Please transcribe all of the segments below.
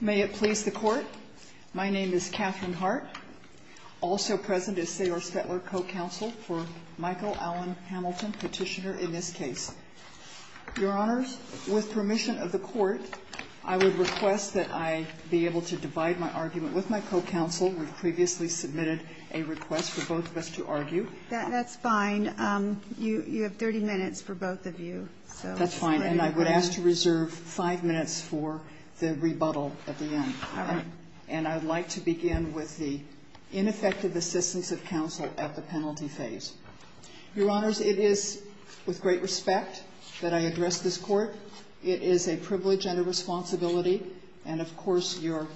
May it please the Court, my name is Catherine Hart. Also present is Saylor Spetler, co-counsel for Michael Allen Hamilton, petitioner in this case. Your Honors, with permission of the Court, I would request that I be able to divide my argument with my co-counsel. We've previously submitted a request for both of us to argue. That's fine. You have 30 minutes for both of you. That's fine. And I would ask to reserve 5 minutes for the rebuttal at the end. All right. And I would like to begin with the ineffective assistance of counsel at the penalty phase. Your Honors, it is with great respect that I address this Court. It is a privilege and a responsibility, and of course, you're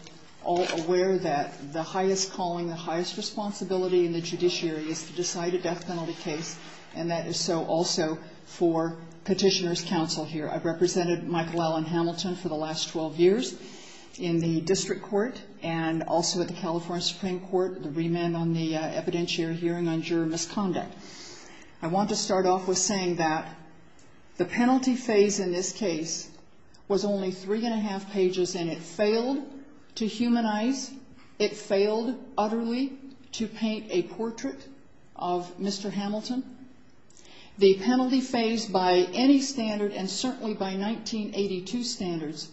all aware that the highest calling, the highest responsibility in the judiciary is to decide a death for a person who has committed a crime. And so, I would like to begin by saying that I am a petitioner's counsel here. I've represented Michael Allen Hamilton for the last 12 years in the District Court and also at the California Supreme Court, the remand on the evidentiary hearing on juror misconduct. I want to start off with saying that the penalty phase in this case was only 3 1. The penalty phase by any standard and certainly by 1982 standards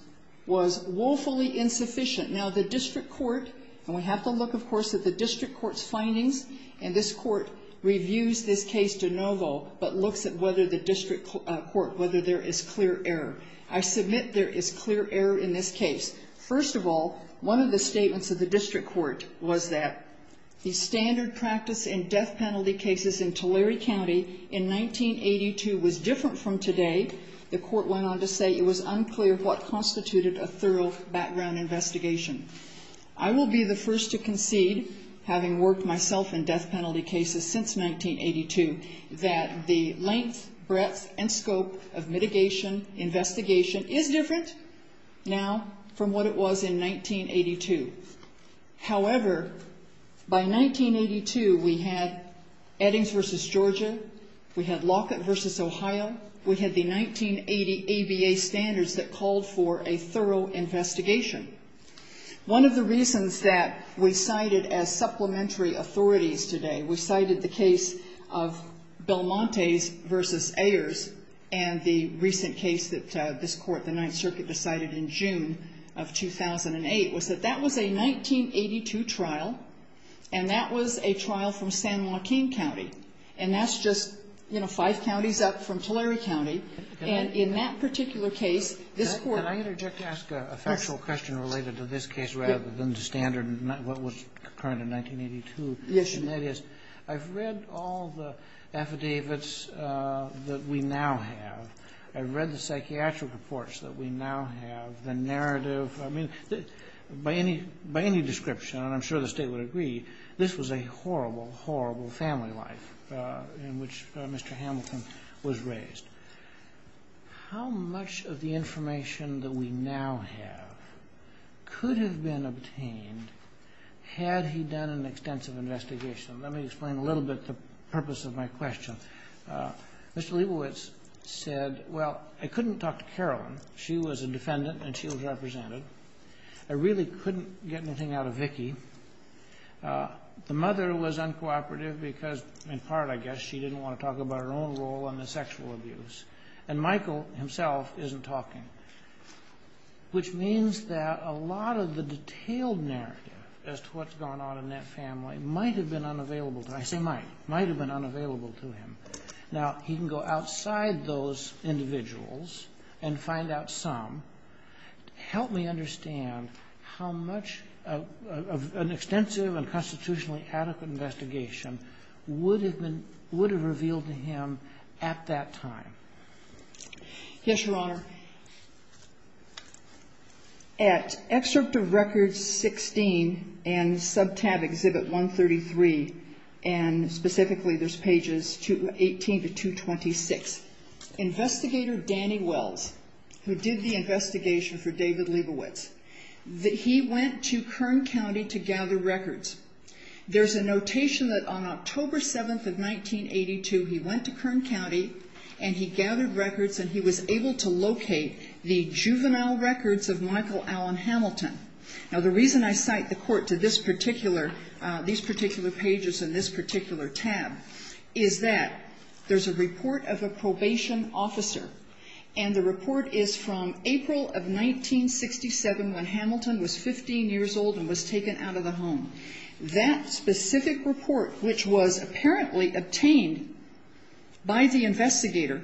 was woefully insufficient. Now, the District Court, and we have to look, of course, at the District Court's findings, and this Court reviews this case to no vote, but looks at whether the District Court, whether there is clear error. I submit there is clear error in this case. First of all, one of the statements of the District Court was that the standard practice in death penalty cases in Tulare County in 1982 was different from today. The Court went on to say it was unclear what constituted a thorough background investigation. I will be the first to concede, having worked myself in death penalty cases since 1982, that the length, breadth, and scope of mitigation investigation is different now from what it was in 1982. However, by 1982, we had Eddings v. Georgia. We had Lockett v. Ohio. We had the 1980 ABA standards that called for a thorough investigation. One of the reasons that we cited as supplementary authorities today, we cited the case of Belmontes v. Ayers and the recent case that this Court, the Ninth Circuit, decided in June of 2008 was that that was a 1982 trial, and that was a trial from San Joaquin County. And that's just, you know, five counties up from Tulare County. And in that particular case, this Court --. Can I interject to ask a factual question related to this case rather than the standard, what was current in 1982? Yes, you may. I've read all the affidavits that we now have. I've read the psychiatric reports that we now have. The narrative, I mean, by any description, and I'm sure the State would agree, this was a horrible, horrible family life in which Mr. Hamilton was raised. How much of the information that we now have could have been obtained had he done an extensive investigation? Let me explain a little bit the purpose of my question. Mr. Leibowitz said, well, I couldn't talk to Carolyn. She was a defendant, and she was represented. I really couldn't get anything out of Vicki. The mother was uncooperative because, in part, I guess, she didn't want to talk about her own role in the sexual abuse. And Michael himself isn't talking, which means that a lot of the detailed narrative as to what's going on in that family might have been unavailable to him. I say might. Might have been unavailable to him. Now, he can go outside those individuals and find out some. Help me understand how much of an extensive and constitutionally adequate investigation would have been, would have revealed to him at that time. Yes, Your Honor. At Excerpt of Records 16 and Subtab Exhibit 133, and specifically there's pages 18 to 226, Investigator Danny Wells, who did the investigation for David Leibowitz, that he went to Kern County to gather records. There's a notation that on October 7th of 1982, he went to Kern County, and he gathered records, and he was able to locate the juvenile records of Michael Alan Hamilton. Now, the reason I cite the court to this particular, these particular pages and this particular tab is that there's a report of a probation officer, and the report is from April of 1967 when Hamilton was 15 years old and was taken out of the home. That specific report, which was apparently obtained by the investigator,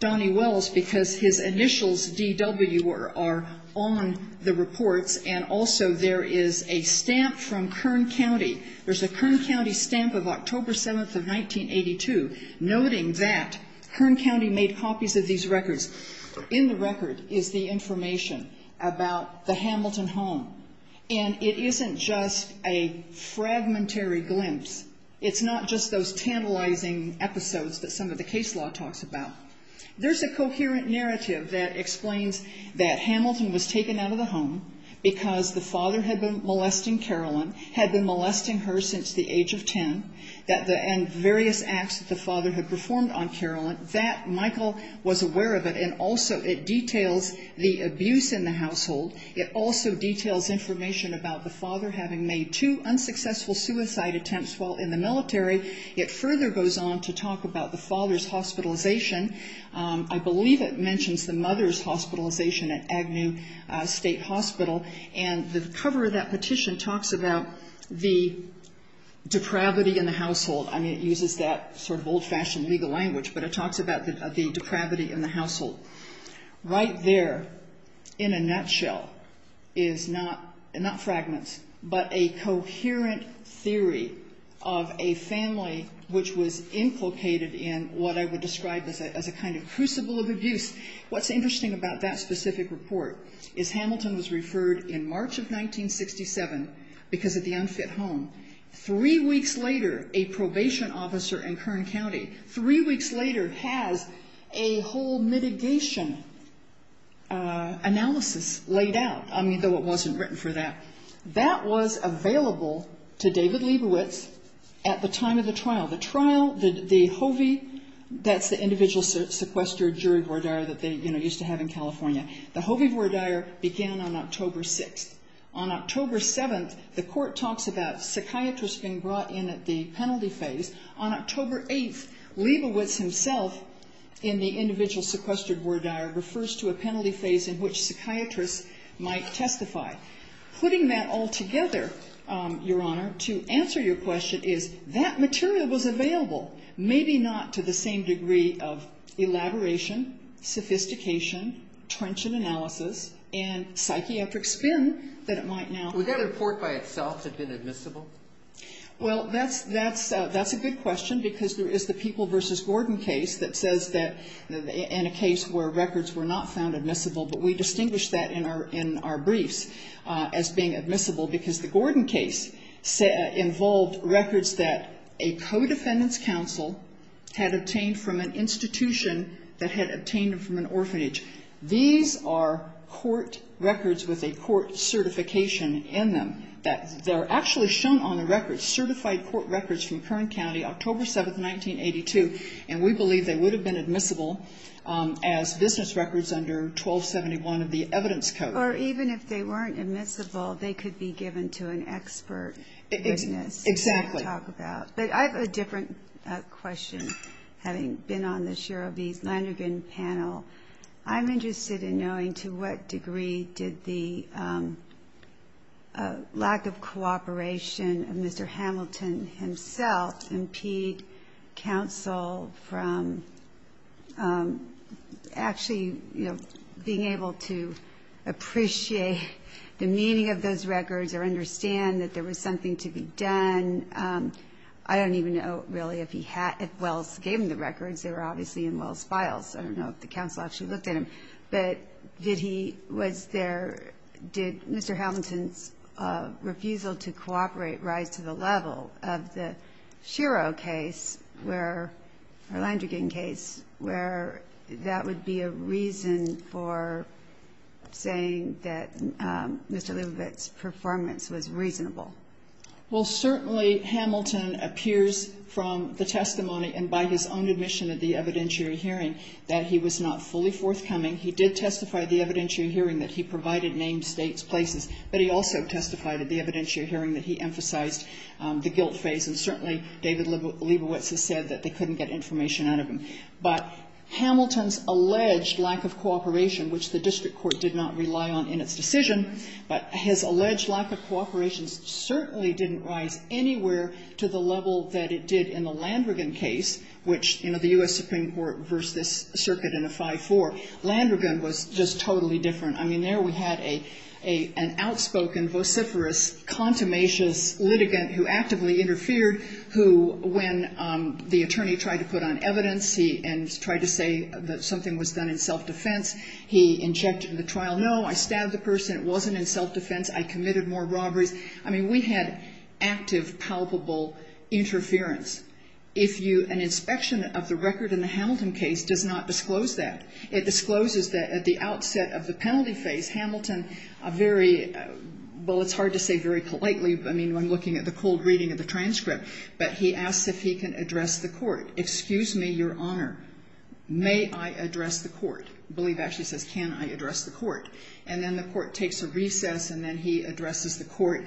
Donnie Wells, because his initials DW are on the reports, and also there is a stamp from Kern County. There's a Kern County stamp of October 7th of 1982, noting that Kern County made copies of these records. In the record is the information about the Hamilton home, and it isn't just a fragmentary glimpse. It's not just those tantalizing episodes that some of the case law talks about. There's a coherent narrative that explains that Hamilton was taken out of the home because the father had been molesting Carolyn, had been molesting her since the age of ten, and various acts that the father had performed on Carolyn. That Michael was aware of it, and also it details the abuse in the household. It also details information about the father having made two unsuccessful suicide attempts while in the military. It further goes on to talk about the father's hospitalization. I believe it mentions the mother's hospitalization at Agnew State Hospital, and the cover of that petition talks about the depravity in the household. I mean, it uses that sort of old-fashioned legal language, but it talks about the depravity in the household. Right there, in a nutshell, is not fragments, but a coherent theory of a family which was implicated in what I would describe as a kind of crucible of abuse. What's interesting about that specific report is Hamilton was referred in March of 1967 because of the unfit home. Three weeks later, a probation officer in Kern County, three weeks later, has a whole mitigation analysis laid out. I mean, though it wasn't written for that. That was available to David Leibowitz at the time of the trial. The HOVI, that's the individual sequestered jury voir dire that they used to have in California, the HOVI voir dire began on October 6th. On October 7th, the court talks about psychiatrists being brought in at the penalty phase. On October 8th, Leibowitz himself, in the individual sequestered voir dire, refers to a penalty phase in which psychiatrists might testify. Putting that all together, Your Honor, to answer your question is, that material was available, maybe not to the same degree of elaboration, sophistication, trenchant analysis, and psychiatric spin that it might now have. Would that report by itself have been admissible? Well, that's a good question because there is the People v. Gordon case that says that, in a case where records were not found admissible, but we distinguish that in our briefs as being admissible because the Gordon case involved records that a co-defendant's counsel had obtained from an institution that had obtained them from an orphanage. These are court records with a court certification in them. They're actually shown on the records, certified court records from Kern County, October 7th, 1982, and we believe they would have been admissible as business records under 1271 of the evidence code. Or even if they weren't admissible, they could be given to an expert business. Exactly. To talk about. But I have a different question, having been on this year of the Leinergen panel. I'm interested in knowing to what degree did the lack of cooperation of Mr. Hamilton himself impede counsel from actually being able to appreciate the meaning of those records or understand that there was something to be done? I don't even know really if Wells gave him the records. They were obviously in Wells' files. I don't know if the counsel actually looked at them. But did he, was there, did Mr. Hamilton's refusal to cooperate rise to the level of the Shiro case, or Leinergen case, where that would be a reason for saying that Mr. Leibowitz's performance was reasonable? Well, certainly Hamilton appears from the testimony, and by his own admission at the evidentiary hearing, that he was not fully forthcoming. He did testify at the evidentiary hearing that he provided name, states, places. But he also testified at the evidentiary hearing that he emphasized the guilt phase. And certainly, David Leibowitz has said that they couldn't get information out of him. But Hamilton's alleged lack of cooperation, which the district court did not rely on in its decision, but his alleged lack of cooperation certainly didn't rise anywhere to the level that it did in the Landregan case, which the US Supreme Court reversed this circuit in a 5-4. Landregan was just totally different. I mean, there we had an outspoken, vociferous, contumacious litigant who actively interfered, who, when the attorney tried to put on evidence, and tried to say that something was done in self-defense, he injected in the trial, no, I stabbed the person, it wasn't in self-defense, I committed more robberies. I mean, we had active, palpable interference. If you, an inspection of the record in the Hamilton case does not disclose that. It discloses that at the outset of the penalty phase, Hamilton, a very, well, it's hard to say very politely. I mean, when looking at the cold reading of the transcript. But he asks if he can address the court. Excuse me, your honor, may I address the court? Believe actually says, can I address the court? And then the court takes a recess, and then he addresses the court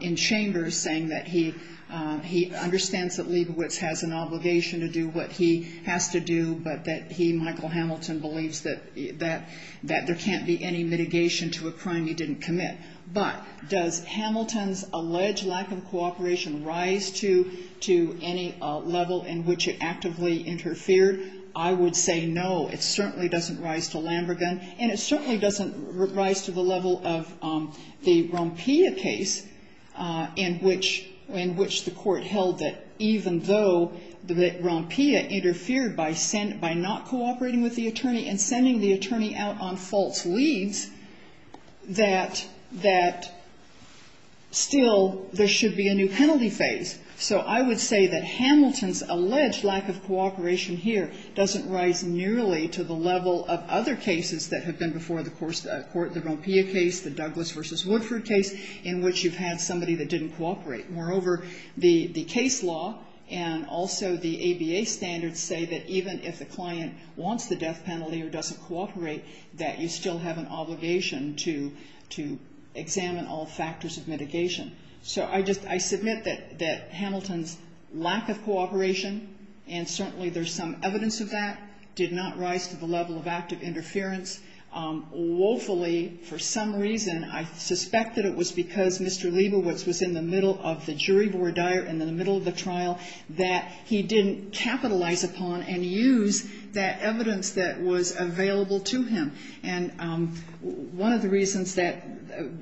in chambers, saying that he understands that Leibovitz has an obligation to do what he has to do, but that he, Michael Hamilton, believes that there can't be any mitigation to a crime he didn't commit. But does Hamilton's alleged lack of cooperation rise to any level in which it actively interfered? I would say no, it certainly doesn't rise to Lambergan. And it certainly doesn't rise to the level of the Rompia case, in which the court held that, even though Rompia interfered by not cooperating with the attorney and sending the attorney out on false leads, that still there should be a new penalty phase. So I would say that Hamilton's alleged lack of cooperation here doesn't rise nearly to the level of other cases that have been before the court, the Rompia case, the Douglas v. Woodford case, in which you've had somebody that didn't cooperate. Moreover, the case law and also the ABA standards say that even if the client wants the death penalty or doesn't cooperate, that you still have an obligation to examine all factors of mitigation. So I just, I submit that Hamilton's lack of cooperation, and certainly there's some evidence of that, did not rise to the level of active interference. Woefully, for some reason, I suspect that it was because Mr. Liebowitz was in the middle of the jury voir dire, in the middle of the trial, that he didn't capitalize upon and use that evidence that was available to him. And one of the reasons that,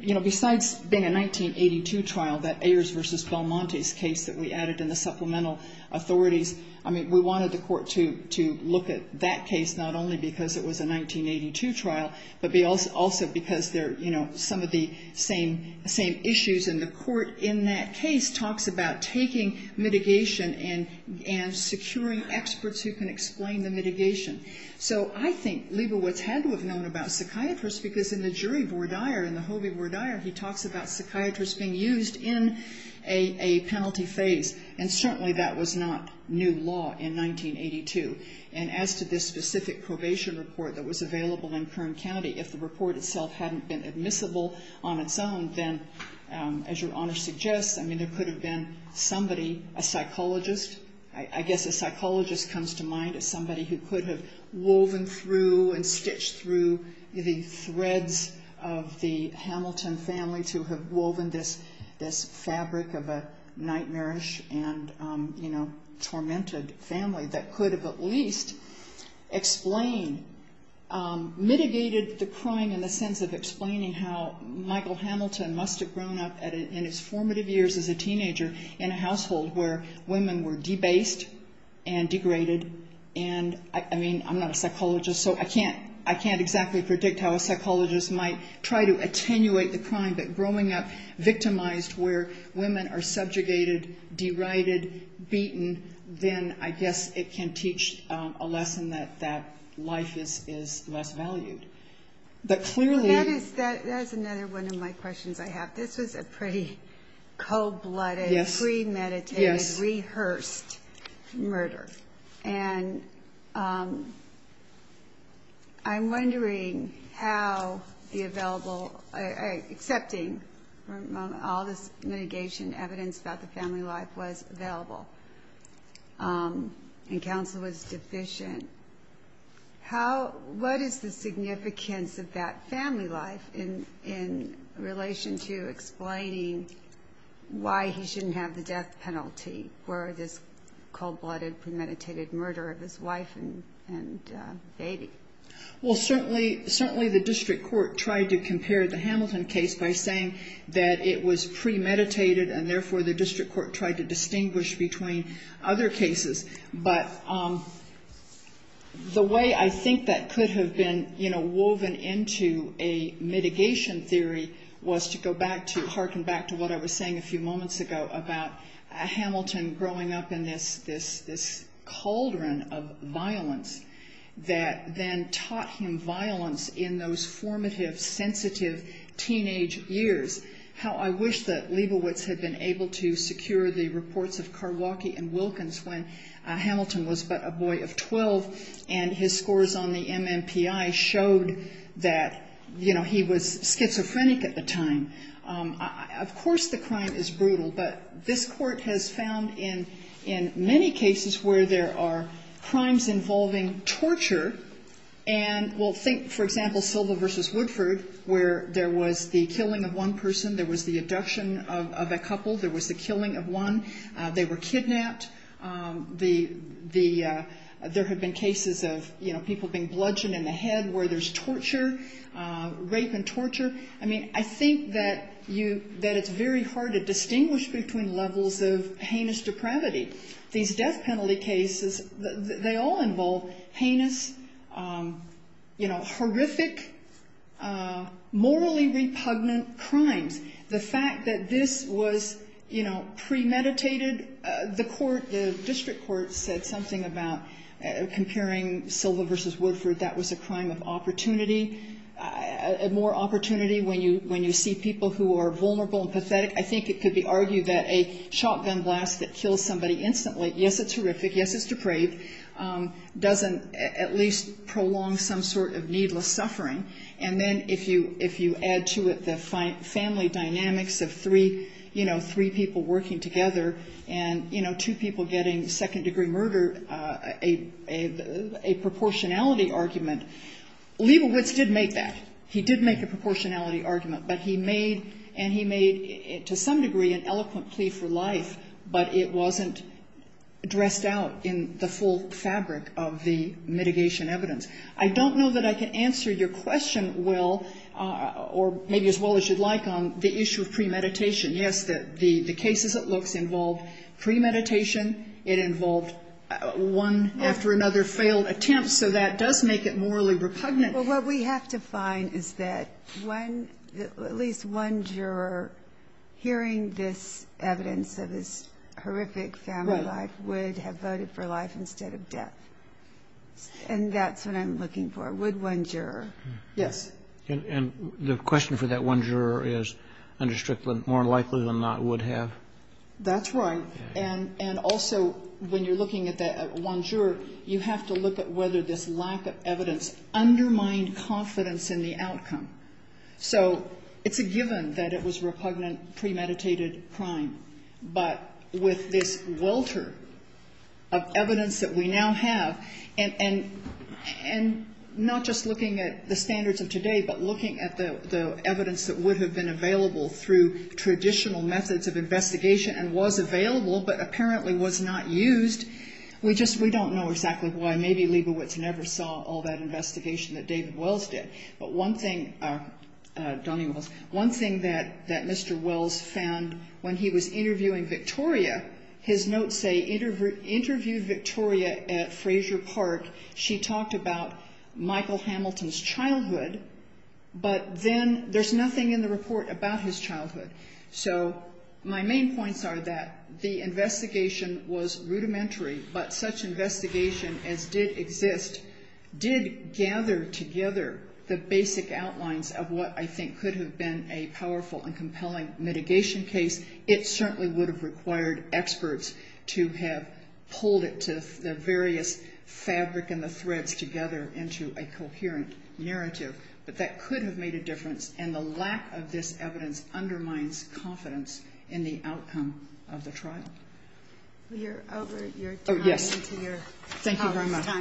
you know, besides being a 1982 trial, that Ayers v. Belmonte's case that we added in the supplemental authorities, I mean, we wanted the court to look at that case not only because it was a 1982 trial, but also because they're, you know, some of the same issues. And the court in that case talks about taking mitigation and securing experts who can explain the mitigation. So I think Liebowitz had to have known about psychiatrists because in the jury voir dire, in the Hobie voir dire, he talks about psychiatrists being used in a penalty phase. And certainly that was not new law in 1982. And as to this specific probation report that was available in Kern County, if the report itself hadn't been admissible on its own, then, as Your Honor suggests, I mean, there could have been somebody, a psychologist, I guess a psychologist comes to mind, as somebody who could have woven through and stitched through the threads of the Hamilton family to have woven this fabric of a nightmarish and, you know, tormented family, that could have at least explained, mitigated the crime in the sense of explaining how Michael Hamilton must have grown up in his formative years as a teenager in a household where women were debased and degraded. And, I mean, I'm not a psychologist, so I can't exactly predict how a psychologist might try to attenuate the crime. But growing up victimized where women are subjugated, derided, beaten, then I guess it can teach a lesson that that life is less valued. But clearly... That is another one of my questions I have. This was a pretty cold-blooded, premeditated, rehearsed murder. And I'm wondering how the available, accepting all this mitigation evidence about the family life was available. And counsel was deficient. How, what is the significance of that family life in relation to explaining why he shouldn't have the death penalty for this cold-blooded, premeditated murder of his wife and baby? Well, certainly the district court tried to compare the Hamilton case by saying that it was premeditated, and therefore the district court tried to distinguish between other cases. But the way I think that could have been, you know, woven into a mitigation theory was to go back to, I'm going to harken back to what I was saying a few moments ago about Hamilton growing up in this cauldron of violence that then taught him violence in those formative, sensitive teenage years. How I wish that Lebowitz had been able to secure the reports of Karwocki and Wilkins when Hamilton was but a boy of 12 and his scores on the MMPI showed that, you know, he was schizophrenic at the time. Of course the crime is brutal, but this court has found in many cases where there are crimes involving torture and we'll think, for example, Silva v. Woodford, where there was the killing of one person, there was the abduction of a couple, there was the killing of one, they were kidnapped, there have been cases of, you know, people being bludgeoned in the head where there's torture, rape and torture. I mean, I think that you, that it's very hard to distinguish between levels of heinous depravity. These death penalty cases, they all involve heinous, you know, horrific, morally repugnant crimes. The fact that this was, you know, premeditated, the court, the district court said something about comparing Silva v. Woodford, that was a crime of opportunity, more opportunity when you see people who are vulnerable and pathetic. I think it could be argued that a shotgun blast that kills somebody instantly, yes, it's horrific, yes, it's depraved, doesn't at least prolong some sort of needless suffering. And then if you add to it the family dynamics of three, you know, three people working together and, you know, two people getting second-degree murder, a proportionality argument, Leibowitz did make that. He did make a proportionality argument, but he made, and he made to some degree an eloquent plea for life, but it wasn't dressed out in the full fabric of the mitigation evidence. I don't know that I can answer your question well, or maybe as well as you'd like, on the issue of premeditation. Yes, the cases it looks involved premeditation. It involved one after another failed attempts, so that does make it morally repugnant. Well, what we have to find is that at least one juror hearing this evidence of this horrific family life would have voted for life instead of death, and that's what I'm looking for. Would one juror? Yes. And the question for that one juror is, under Strickland, more likely than not would have? That's right, and also when you're looking at that one juror, you have to look at whether this lack of evidence undermined confidence in the outcome. So it's a given that it was repugnant premeditated crime, but with this welter of evidence that we now have, and not just looking at the standards of today, but looking at the evidence that would have been available through traditional methods of investigation and was available but apparently was not used, we don't know exactly why. Maybe Liebowitz never saw all that investigation that Donnie Wells did. But one thing that Mr. Wells found when he was interviewing Victoria, his notes say, interviewed Victoria at Fraser Park. She talked about Michael Hamilton's childhood, but then there's nothing in the report about his childhood. So my main points are that the investigation was rudimentary, but such investigation as did exist did gather together the basic outlines of what I think could have been a powerful and compelling mitigation case. It certainly would have required experts to have pulled it to the various fabric and the threads together into a coherent narrative, but that could have made a difference, and the lack of this evidence undermines confidence in the outcome of the trial. You're over your time. Oh, yes. Thank you very much. Good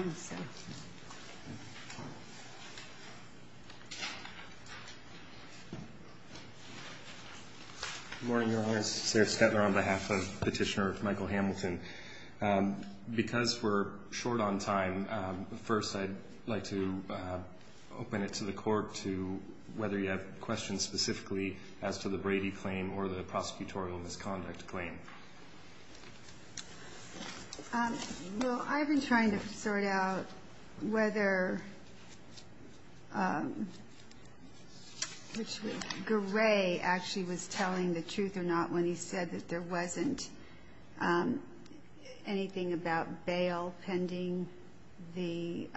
morning, Your Honor. Sarah Stetler on behalf of Petitioner Michael Hamilton. Because we're short on time, first I'd like to open it to the Court to whether you have questions specifically as to the Brady claim or the prosecutorial misconduct claim. Well, I've been trying to sort out whether Gray actually was telling the truth or not when he said that there wasn't anything about bail pending the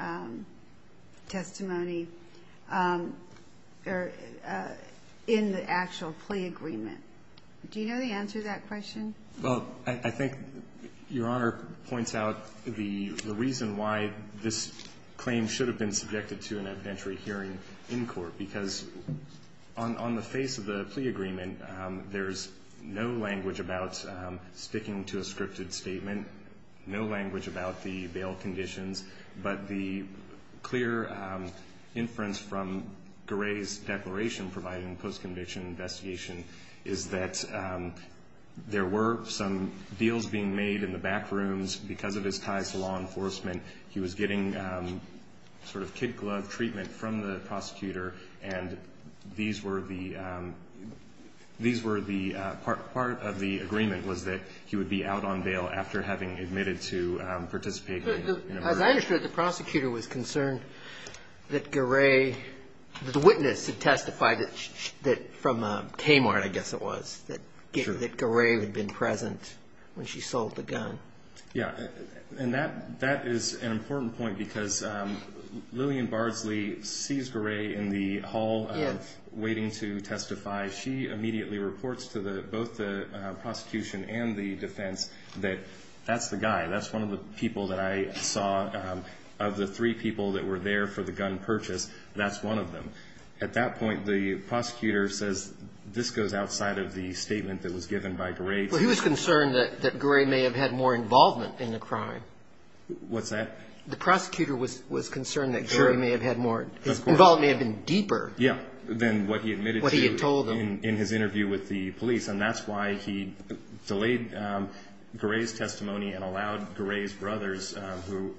testimony in the actual plea agreement. Do you know the answer to that question? Well, I think Your Honor points out the reason why this claim should have been subjected to an evidentiary hearing in court, because on the face of the plea agreement, there's no language about sticking to a scripted statement, no language about the bail conditions, but the clear inference from Gray's declaration providing post-conviction investigation is that there were some deals being made in the back rooms because of his ties to law enforcement. He was getting sort of kid-glove treatment from the prosecutor, and part of the agreement was that he would be out on bail after having admitted to participating in a murder. As I understood, the prosecutor was concerned that Gray, that the witness had testified from Kmart, I guess it was, that Gray had been present when she sold the gun. Yeah, and that is an important point because Lillian Bardsley sees Gray in the hall waiting to testify. She immediately reports to both the prosecution and the defense that that's the guy, that's one of the people that I saw. Of the three people that were there for the gun purchase, that's one of them. At that point, the prosecutor says, this goes outside of the statement that was given by Gray. Well, he was concerned that Gray may have had more involvement in the crime. What's that? The prosecutor was concerned that Gray may have had more, his involvement may have been deeper. Yeah, than what he admitted to in his interview with the police, and that's why he delayed Gray's testimony and allowed Gray's brothers, who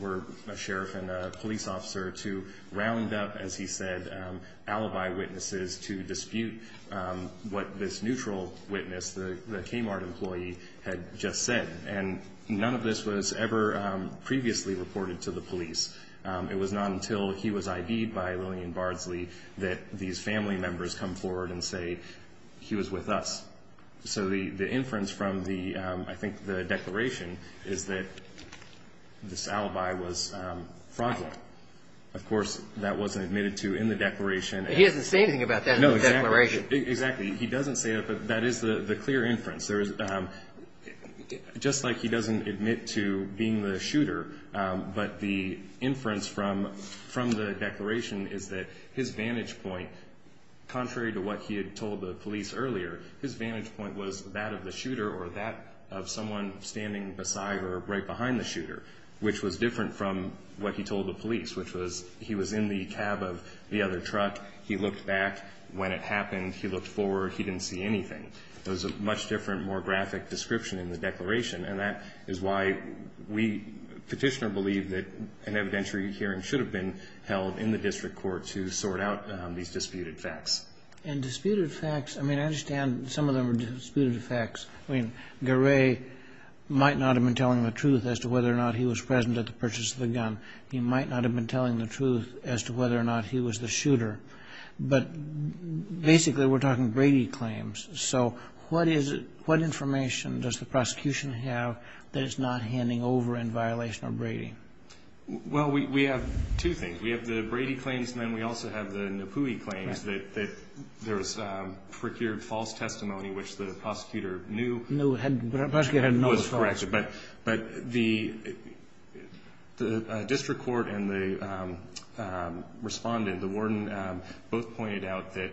were a sheriff and a police officer, to round up, as he said, alibi witnesses to dispute what this neutral witness, the Kmart employee, had just said. And none of this was ever previously reported to the police. It was not until he was ID'd by Lillian Bardsley that these family members come forward and say he was with us. So the inference from the, I think, the declaration is that this alibi was fraudulent. Of course, that wasn't admitted to in the declaration. He doesn't say anything about that in the declaration. No, exactly. He doesn't say it, but that is the clear inference. Just like he doesn't admit to being the shooter, but the inference from the declaration is that his vantage point, contrary to what he had told the police earlier, his vantage point was that of the shooter or that of someone standing beside or right behind the shooter, which was different from what he told the police, which was he was in the cab of the other truck. He looked back. When it happened, he looked forward. He didn't see anything. It was a much different, more graphic description in the declaration, and that is why we petitioner believe that an evidentiary hearing should have been held in the district court to sort out these disputed facts. And disputed facts, I mean, I understand some of them are disputed facts. I mean, Garay might not have been telling the truth as to whether or not he was present at the purchase of the gun. He might not have been telling the truth as to whether or not he was the shooter. But basically, we're talking Brady claims. that it's not handing over in violation of Brady? Well, we have two things. We have the Brady claims, and then we also have the Napui claims that there was procured false testimony, which the prosecutor knew was false. But the district court and the respondent, the warden, both pointed out that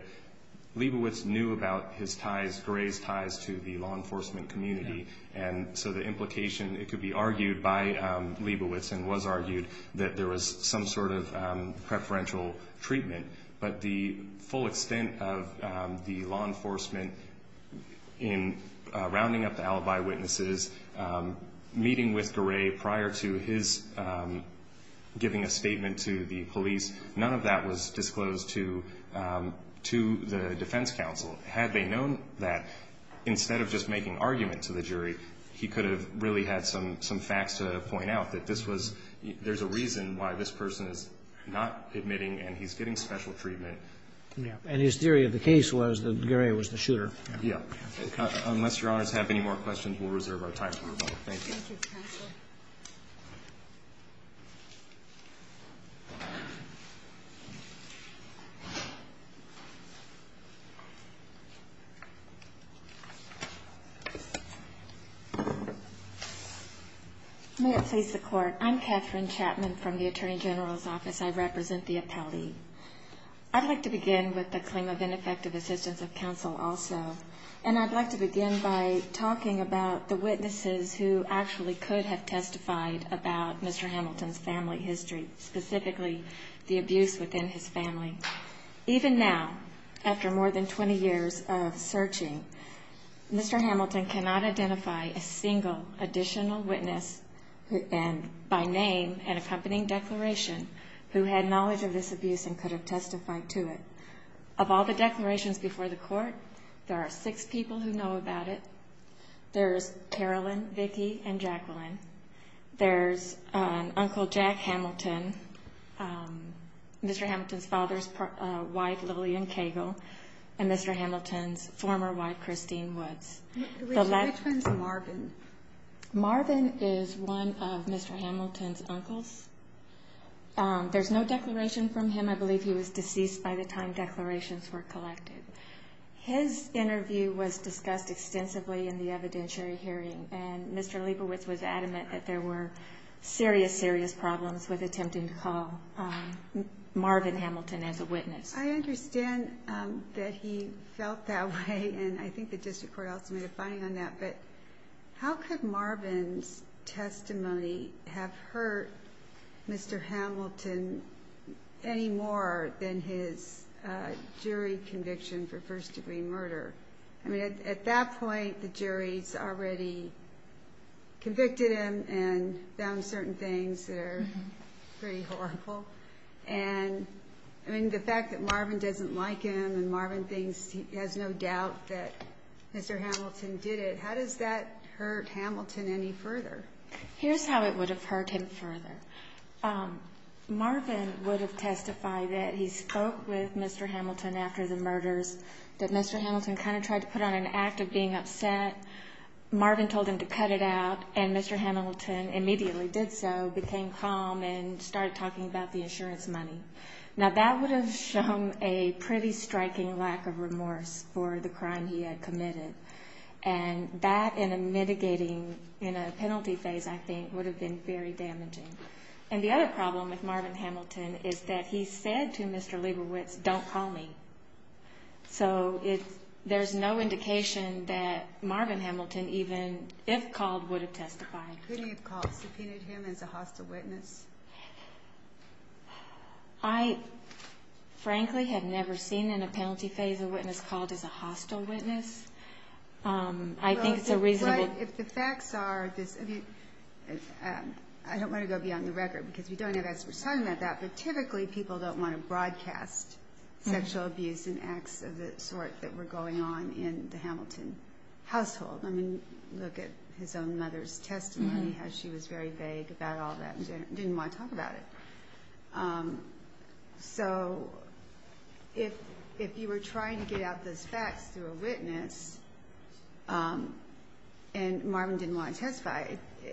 Leibovitz knew about his ties, Garay's ties to the law enforcement community, and so the implication, it could be argued, by Leibovitz and was argued that there was some sort of preferential treatment. But the full extent of the law enforcement in rounding up the alibi witnesses, meeting with Garay prior to his giving a statement to the police, none of that was disclosed to the defense counsel. He could have really had some facts to point out that there's a reason why this person is not admitting and he's getting special treatment. And his theory of the case was that Garay was the shooter. Yeah. Unless Your Honors have any more questions, we'll reserve our time for rebuttal. Thank you. May it please the Court. I'm Catherine Chapman from the Attorney General's Office. I represent the appellee. I'd like to begin with the claim of ineffective assistance of counsel also, and I'd like to begin by talking about the witnesses who actually could have testified about Mr. Hamilton's family history, Even now, after more than 20 years of searching, Mr. Hamilton cannot identify a single additional witness by name and accompanying declaration who had knowledge of this abuse and could have testified to it. Of all the declarations before the Court, there are six people who know about it. There's Carolyn, Vicki, and Jacqueline. There's Uncle Jack Hamilton, Mr. Hamilton's father's wife, Lillian Cagle, and Mr. Hamilton's former wife, Christine Woods. Which one's Marvin? Marvin is one of Mr. Hamilton's uncles. There's no declaration from him. I believe he was deceased by the time declarations were collected. His interview was discussed extensively in the evidentiary hearing, and Mr. Liebowitz was adamant that there were serious, serious problems with attempting to call Marvin Hamilton as a witness. I understand that he felt that way, and I think the District Court also made a finding on that, but how could Marvin's testimony have hurt Mr. Hamilton any more than his jury conviction for first-degree murder? I mean, at that point, the jury's already convicted him and found certain things that are pretty horrible, and, I mean, the fact that Marvin doesn't like him and Marvin thinks he has no doubt that Mr. Hamilton did it, how does that hurt Hamilton any further? Here's how it would have hurt him further. Marvin would have testified that he spoke with Mr. Hamilton after the murders, that Mr. Hamilton kind of tried to put on an act of being upset. Marvin told him to cut it out, and Mr. Hamilton immediately did so, became calm, and started talking about the insurance money. Now, that would have shown a pretty striking lack of remorse for the crime he had committed, and that in a mitigating, in a penalty phase, I think, would have been very damaging. And the other problem with Marvin Hamilton is that he said to Mr. Liebowitz, don't call me. So there's no indication that Marvin Hamilton, even if called, would have testified. Could he have called, subpoenaed him as a hostile witness? I, frankly, have never seen in a penalty phase a witness called as a hostile witness. I think it's a reasonable... But if the facts are... I don't want to go beyond the record, because we don't have experts talking about that, but typically people don't want to broadcast sexual abuse and acts of the sort that were going on in the Hamilton household. I mean, look at his own mother's testimony, how she was very vague about all that and didn't want to talk about it. So, if you were trying to get out those facts through a witness, and Marvin didn't want to testify,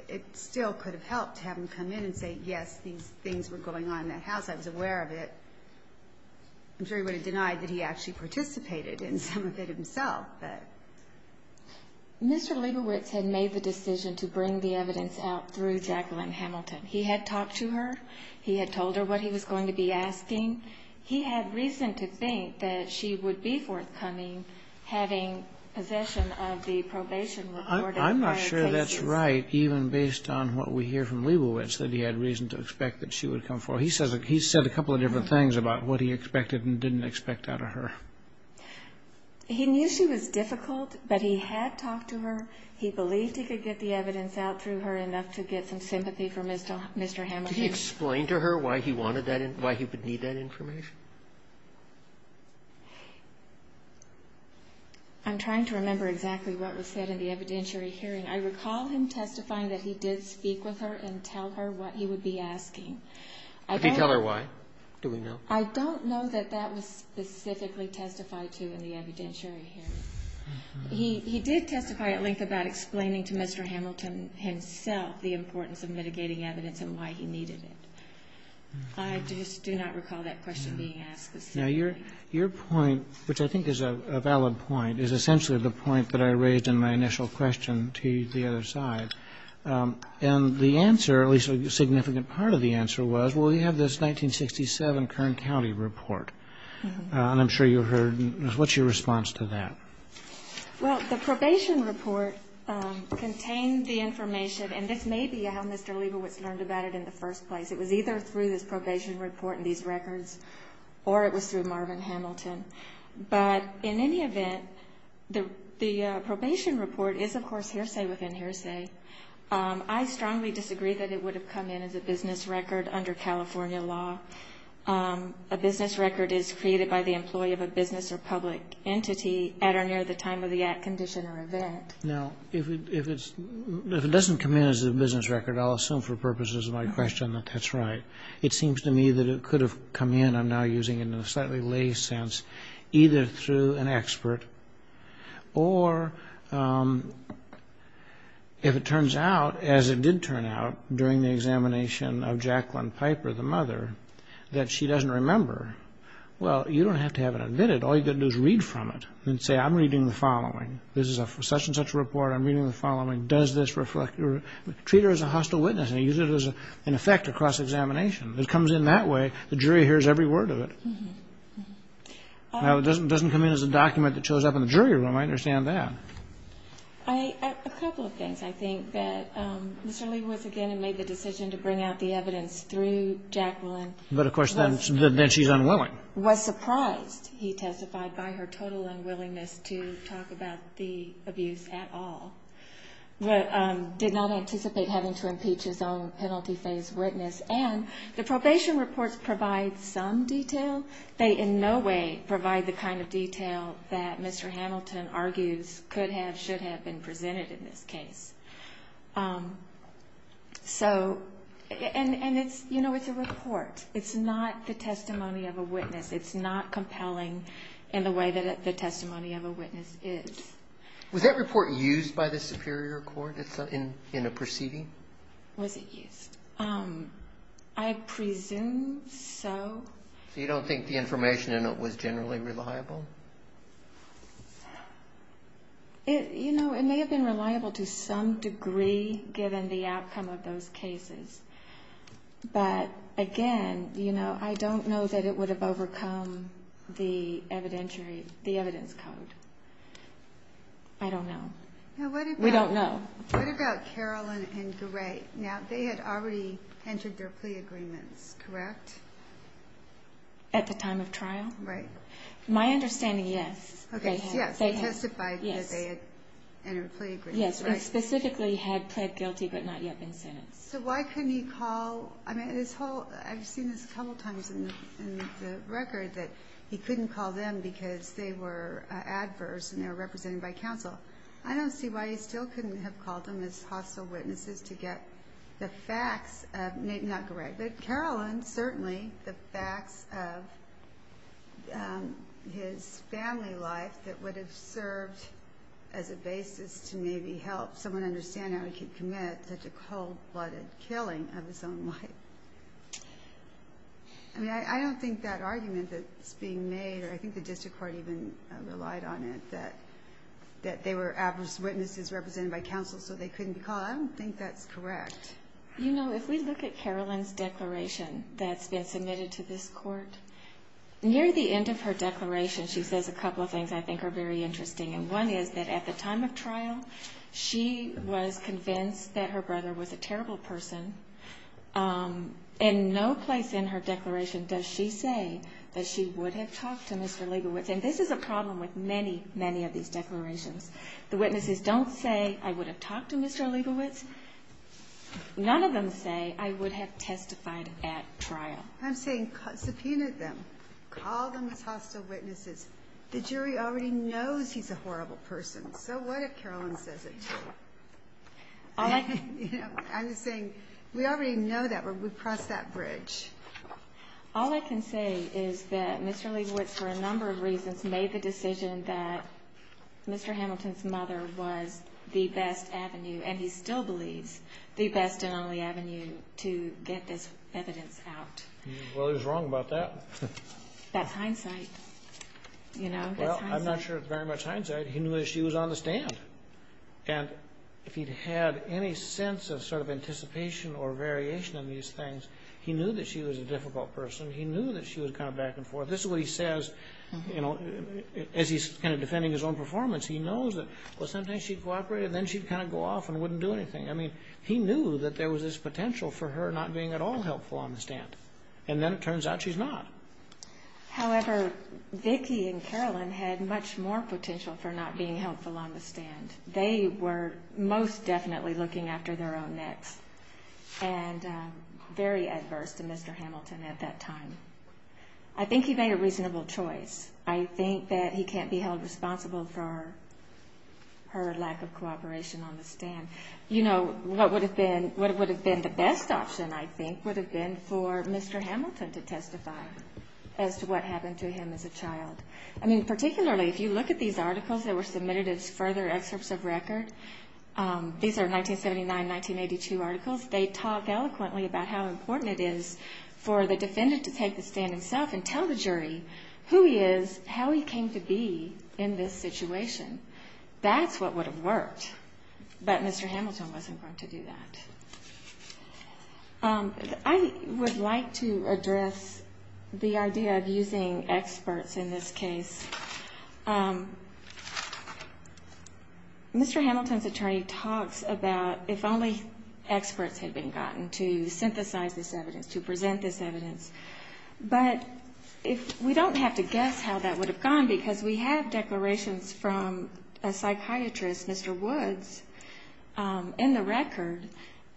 it still could have helped to have him come in and say, yes, these things were going on in that house, I was aware of it. I'm sure he would have denied that he actually participated in some of it himself, but... Mr. Leibowitz had made the decision to bring the evidence out through Jacqueline Hamilton. He had talked to her. He had told her what he was going to be asking. He had reason to think that she would be forthcoming having possession of the probation report of prior cases. I'm not sure that's right, even based on what we hear from Leibowitz, that he had reason to expect that she would come forward. He said a couple of different things about what he expected and didn't expect out of her. He knew she was difficult, but he had talked to her. He believed he could get the evidence out through her enough to get some sympathy from Mr. Hamilton. Could you explain to her why he wanted that, why he would need that information? I'm trying to remember exactly what was said in the evidentiary hearing. I recall him testifying that he did speak with her and tell her what he would be asking. Did he tell her why? Do we know? I don't know that that was specifically testified to in the evidentiary hearing. He did testify at length about explaining to Mr. Hamilton himself the importance of mitigating evidence and why he needed it. I just do not recall that question being asked. Now, your point, which I think is a valid point, is essentially the point that I raised in my initial question to the other side. And the answer, at least a significant part of the answer, was, well, you have this 1967 Kern County report. And I'm sure you heard. What's your response to that? Well, the probation report contained the information, and this may be how Mr. Liebowitz learned about it in the first place. It was either through this probation report and these records, or it was through Marvin Hamilton. But in any event, the probation report is, of course, hearsay within hearsay. I strongly disagree that it would have come in as a business record under California law. A business record is created by the employee of a business or public entity at or near the time of the act, condition, or event. Now, if it doesn't come in as a business record, I'll assume for purposes of my question that that's right. It seems to me that it could have come in, I'm now using it in a slightly lay sense, either through an expert or if it turns out, as it did turn out during the examination of Jacqueline Piper, the mother, that she doesn't remember, well, you don't have to have it admitted. All you've got to do is read from it and say, I'm reading the following. This is a such-and-such report. I'm reading the following. Treat her as a hostile witness and use it as an effect of cross-examination. If it comes in that way, the jury hears every word of it. Now, if it doesn't come in as a document that shows up in the jury room, I understand that. A couple of things. I think that Mr. Lee was, again, and made the decision to bring out the evidence through Jacqueline. But, of course, then she's unwilling. Was surprised, he testified, by her total unwillingness to talk about the abuse at all. Did not anticipate having to impeach his own penalty phase witness. The probation reports provide some detail. They, in no way, provide the kind of detail that Mr. Hamilton argues could have, should have, been presented in this case. So, and it's, you know, it's a report. It's not the testimony of a witness. It's not compelling in the way that the testimony of a witness is. Was that report used by the Superior Court in a proceeding? Was it used? I presume so. So you don't think the information in it was generally reliable? You know, it may have been reliable to some degree, given the outcome of those cases. But, again, you know, I don't know that it would have overcome the evidence code. I don't know. We don't know. What about Carolyn and Gray? Now, they had already entered their plea agreements, correct? At the time of trial? Right. My understanding, yes. They testified that they had entered their plea agreements. Yes, they specifically had pled guilty but not yet been sentenced. So why couldn't he call, I've seen this a couple times in the record, that he couldn't call them because they were adverse and they were represented by counsel. I don't see why he still couldn't have called them as hostile witnesses to get the facts of, not Gray, but Carolyn, certainly, the facts of his family life that would have served as a basis to maybe help someone understand how he could commit such a cold-blooded killing of his own wife. I mean, I don't think that argument that's being made, or I think the district court even relied on it, that they were adverse witnesses represented by counsel so they couldn't be called. I don't think that's correct. You know, if we look at Carolyn's declaration that's been submitted to this court, near the end of her declaration she says a couple of things I think are very interesting. And one is that at the time of trial she was convinced that her brother was a terrible person and no place in her declaration does she say that she would have talked to Mr. Leibovitz. And this is a problem with many, many of these declarations. The witnesses don't say, I would have talked to Mr. Leibovitz. None of them say I would have testified at trial. I'm saying, subpoena them. Call them as hostile witnesses. The jury already knows he's a horrible person, so what if Carolyn says it too? I'm saying we already know that when we cross that bridge. All I can say is that Mr. Leibovitz, for a number of reasons, made the decision that Mr. Hamilton's mother was the best avenue, and he still believes the best and only avenue to get this evidence out. Well, he was wrong about that. That's hindsight. You know, that's hindsight. I'm not sure it's very much hindsight. He knew that she was on the stand. And if he'd had any sense of sort of anticipation or variation on these things he knew that she was a difficult person. He knew that she was kind of back and forth. This is what he says as he's kind of defending his own performance. He knows that sometimes she'd cooperate and then she'd kind of go off and wouldn't do anything. He knew that there was this potential for her not being at all helpful on the stand. And then it turns out she's not. However, Vicki and Carolyn had much more potential for not being helpful on the stand. They were most definitely looking after their own necks and very adverse to Mr. Hamilton at that time. I think he made a reasonable choice. I think that he can't be held responsible for her lack of cooperation on the stand. What would have been the best option, I think, would have been for Mr. Hamilton to testify as to what happened to him as a child. I mean, particularly if you look at these articles that were submitted as further excerpts of record. These are 1979-1982 articles. They talk eloquently about how important it is for the defendant to take the stand himself and tell the jury who he is, how he came to be in this situation. That's what would have worked. But Mr. Hamilton wasn't going to do that. I would like to address the idea of using experts in this case. Mr. Hamilton's attorney talks about if only experts had been gotten to synthesize this evidence, to present this evidence. But we don't have to guess how that would have gone because we have declarations from a psychiatrist, Mr. Woods, in the record.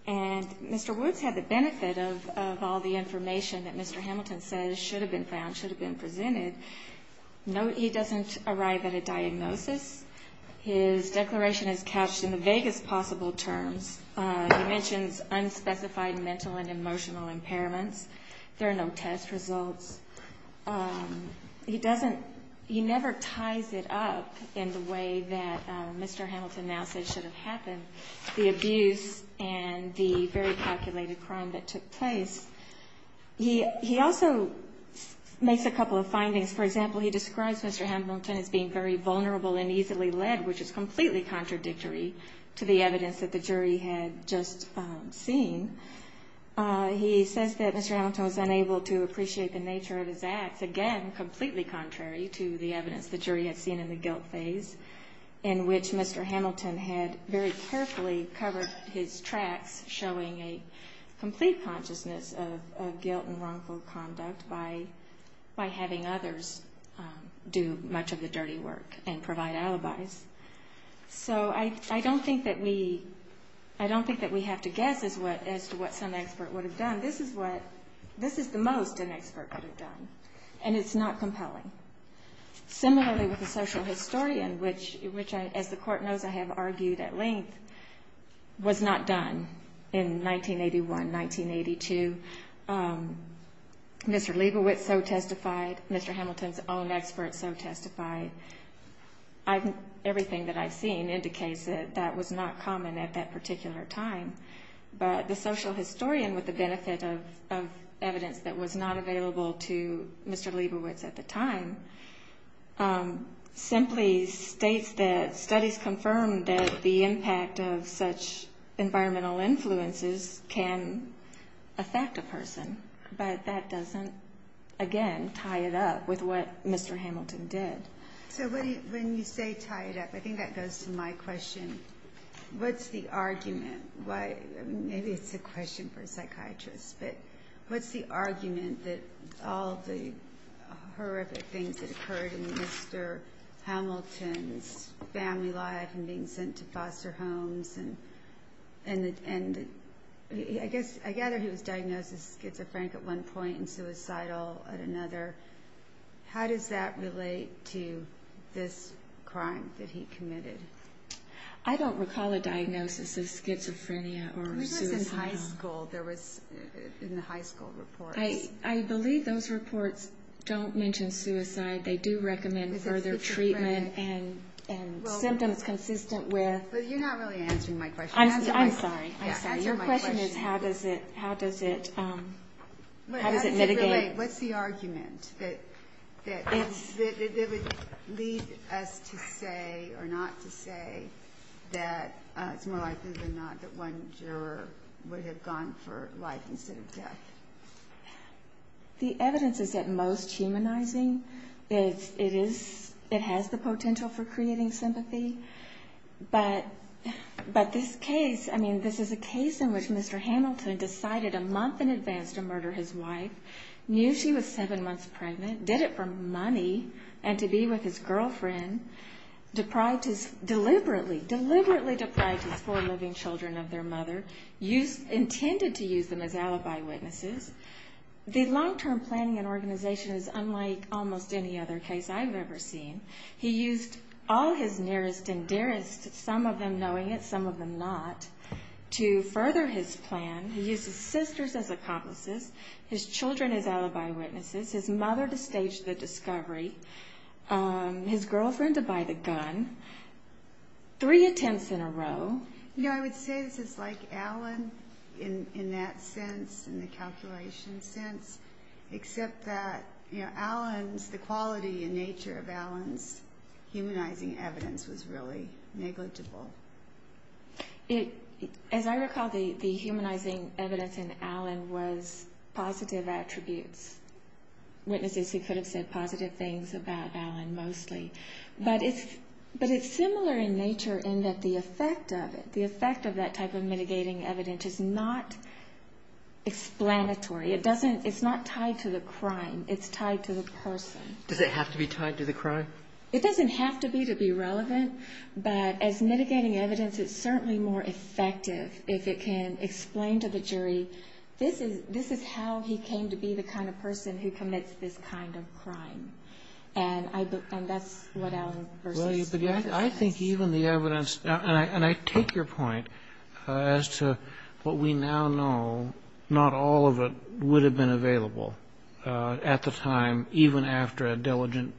And Mr. Woods had the benefit of all the information that Mr. Hamilton says should have been found, should have been presented. Note he doesn't arrive at a diagnosis. His declaration is couched in the vaguest possible terms. He mentions unspecified mental and emotional impairments. There are no test results. He never ties it up in the way that Mr. Hamilton now says should have happened. The abuse and the very calculated crime that took place. He also makes a couple of findings. For example, he describes Mr. Hamilton as being very vulnerable and easily led, which is completely contradictory to the evidence that the jury had just seen. He says that Mr. Hamilton was unable to appreciate the nature of his acts. Again, completely contrary to the evidence the jury had seen in the guilt phase in which Mr. Hamilton had very carefully covered his tracks, showing a complete consciousness of guilt and wrongful conduct by having others do much of the dirty work and provide alibis. So I don't think that we have to guess as to what some expert would have done. This is the most an expert would have done. And it's not compelling. Similarly with the social historian, which, as the court knows, I have argued at length was not done in 1981, 1982. Mr. Leibowitz so testified. Mr. Hamilton's own expert so testified. Everything that I've seen indicates that that was not common at that particular time. But the social historian with the benefit of evidence that was not available to Mr. Leibowitz at the time simply states that studies confirm that the impact of such environmental influences can affect a person. But that doesn't again tie it up with what Mr. Hamilton did. So when you say tie it up, I think that what's the argument? Maybe it's a question for a psychiatrist, but what's the argument that all the horrific things that occurred in Mr. Hamilton's family life and being sent to foster homes and I guess I gather he was diagnosed with schizophrenia at one point and suicidal at another. How does that relate to this crime that he committed? I don't recall a diagnosis of schizophrenia or suicidal. I believe those reports don't mention suicide. They do recommend further treatment and symptoms consistent with You're not really answering my question. I'm sorry. Your question is how does it mitigate? What's the argument that would lead us to say or not to say that it's more likely than not that one juror would have gone for life instead of death? The evidence is at most humanizing. It has the potential for creating sympathy. But this case I mean this is a case in which Mr. Hamilton decided a month in advance to murder his wife, knew she was seven months pregnant, did it for money and to be with his girlfriend deliberately deprived his four living children of their mother intended to use them as alibi witnesses. The long term planning and organization is unlike almost any other case I've ever seen. He used all his nearest and dearest, some of them knowing it, some of them not to further his plan. He used his sisters as accomplices his children as alibi witnesses his mother to stage the discovery his girlfriend to buy the gun three attempts in a row You know I would say this is like Allen in that sense in the calculation sense except that the quality and nature of Allen's humanizing evidence was really negligible. As I recall the humanizing evidence in Allen was positive attributes witnesses who could have said positive things about Allen mostly but it's similar in nature in that the effect of it the effect of that type of mitigating evidence is not explanatory, it's not tied to the crime, it's tied to the person. Does it have to be tied to the crime? It doesn't have to be to be relevant, but as mitigating evidence it's certainly more effective if it can explain to the jury this is how he came to be the kind of person who commits this kind of crime and that's what Allen I think even the evidence and I take your point as to what we now know, not all of it would have been available at the time, even after a diligent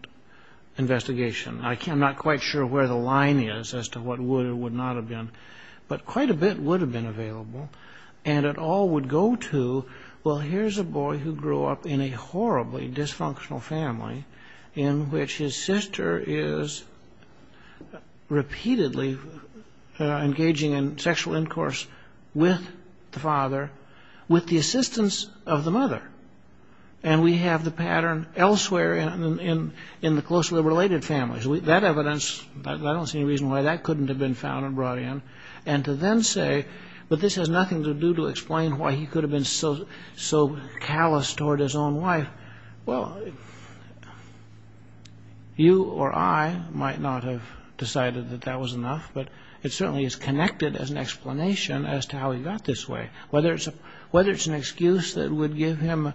investigation I'm not quite sure where the line is as to what would or would not have been, but quite a bit would have been I would go to, well here's a boy who grew up in a horribly dysfunctional family in which his sister is repeatedly engaging in sexual incourse with the father, with the assistance of the mother and we have the pattern elsewhere in the closely related families, that evidence I don't see any reason why that couldn't have been found and brought in and to then say but this has nothing to do to explain why he could have been so callous toward his own wife well you or I might not have decided that that was enough, but it certainly is connected as an explanation as to how he got this way, whether it's an excuse that would give him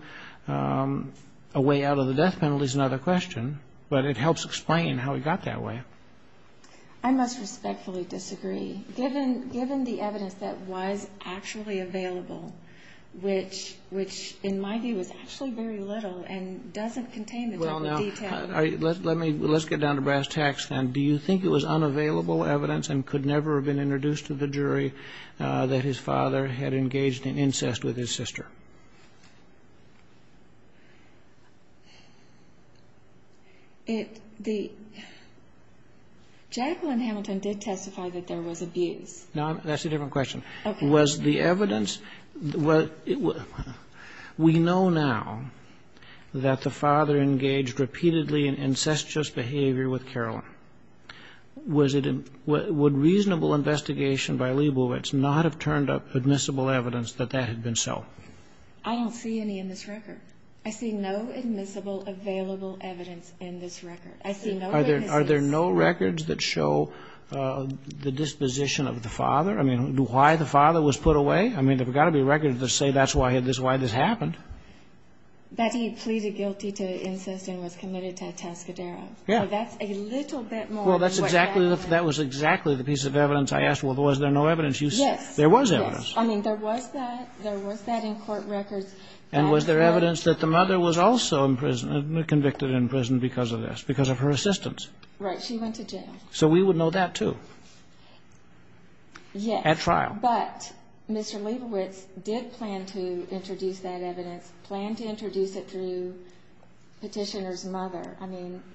a way out of the death penalty is another question, but it helps explain how he got that way I must respectfully disagree given the evidence that was actually available which in my view is actually very little and doesn't contain the type of detail let's get down to brass tacks do you think it was unavailable evidence and could never have been introduced to the jury that his father had engaged in incest with his sister it the Jacqueline Hamilton did testify that there was abuse that's a different question was the evidence we know now that the father engaged repeatedly in incestuous behavior with Caroline would reasonable investigation by Leibowitz not have turned up admissible evidence that that had been so I don't see any in this record I see no admissible available evidence in this record are there no records that show the disposition of the father why the father was put away there's got to be records that say that's why this happened that he pleaded guilty to incest and was committed to a Tascadero that's a little bit more that was exactly the piece of evidence I asked was there no evidence there was evidence there was that in court records and was there evidence that the mother was also convicted in prison because of her assistance right she went to jail so we would know that too at trial but Mr. Leibowitz did plan to introduce that evidence plan to introduce it through petitioner's mother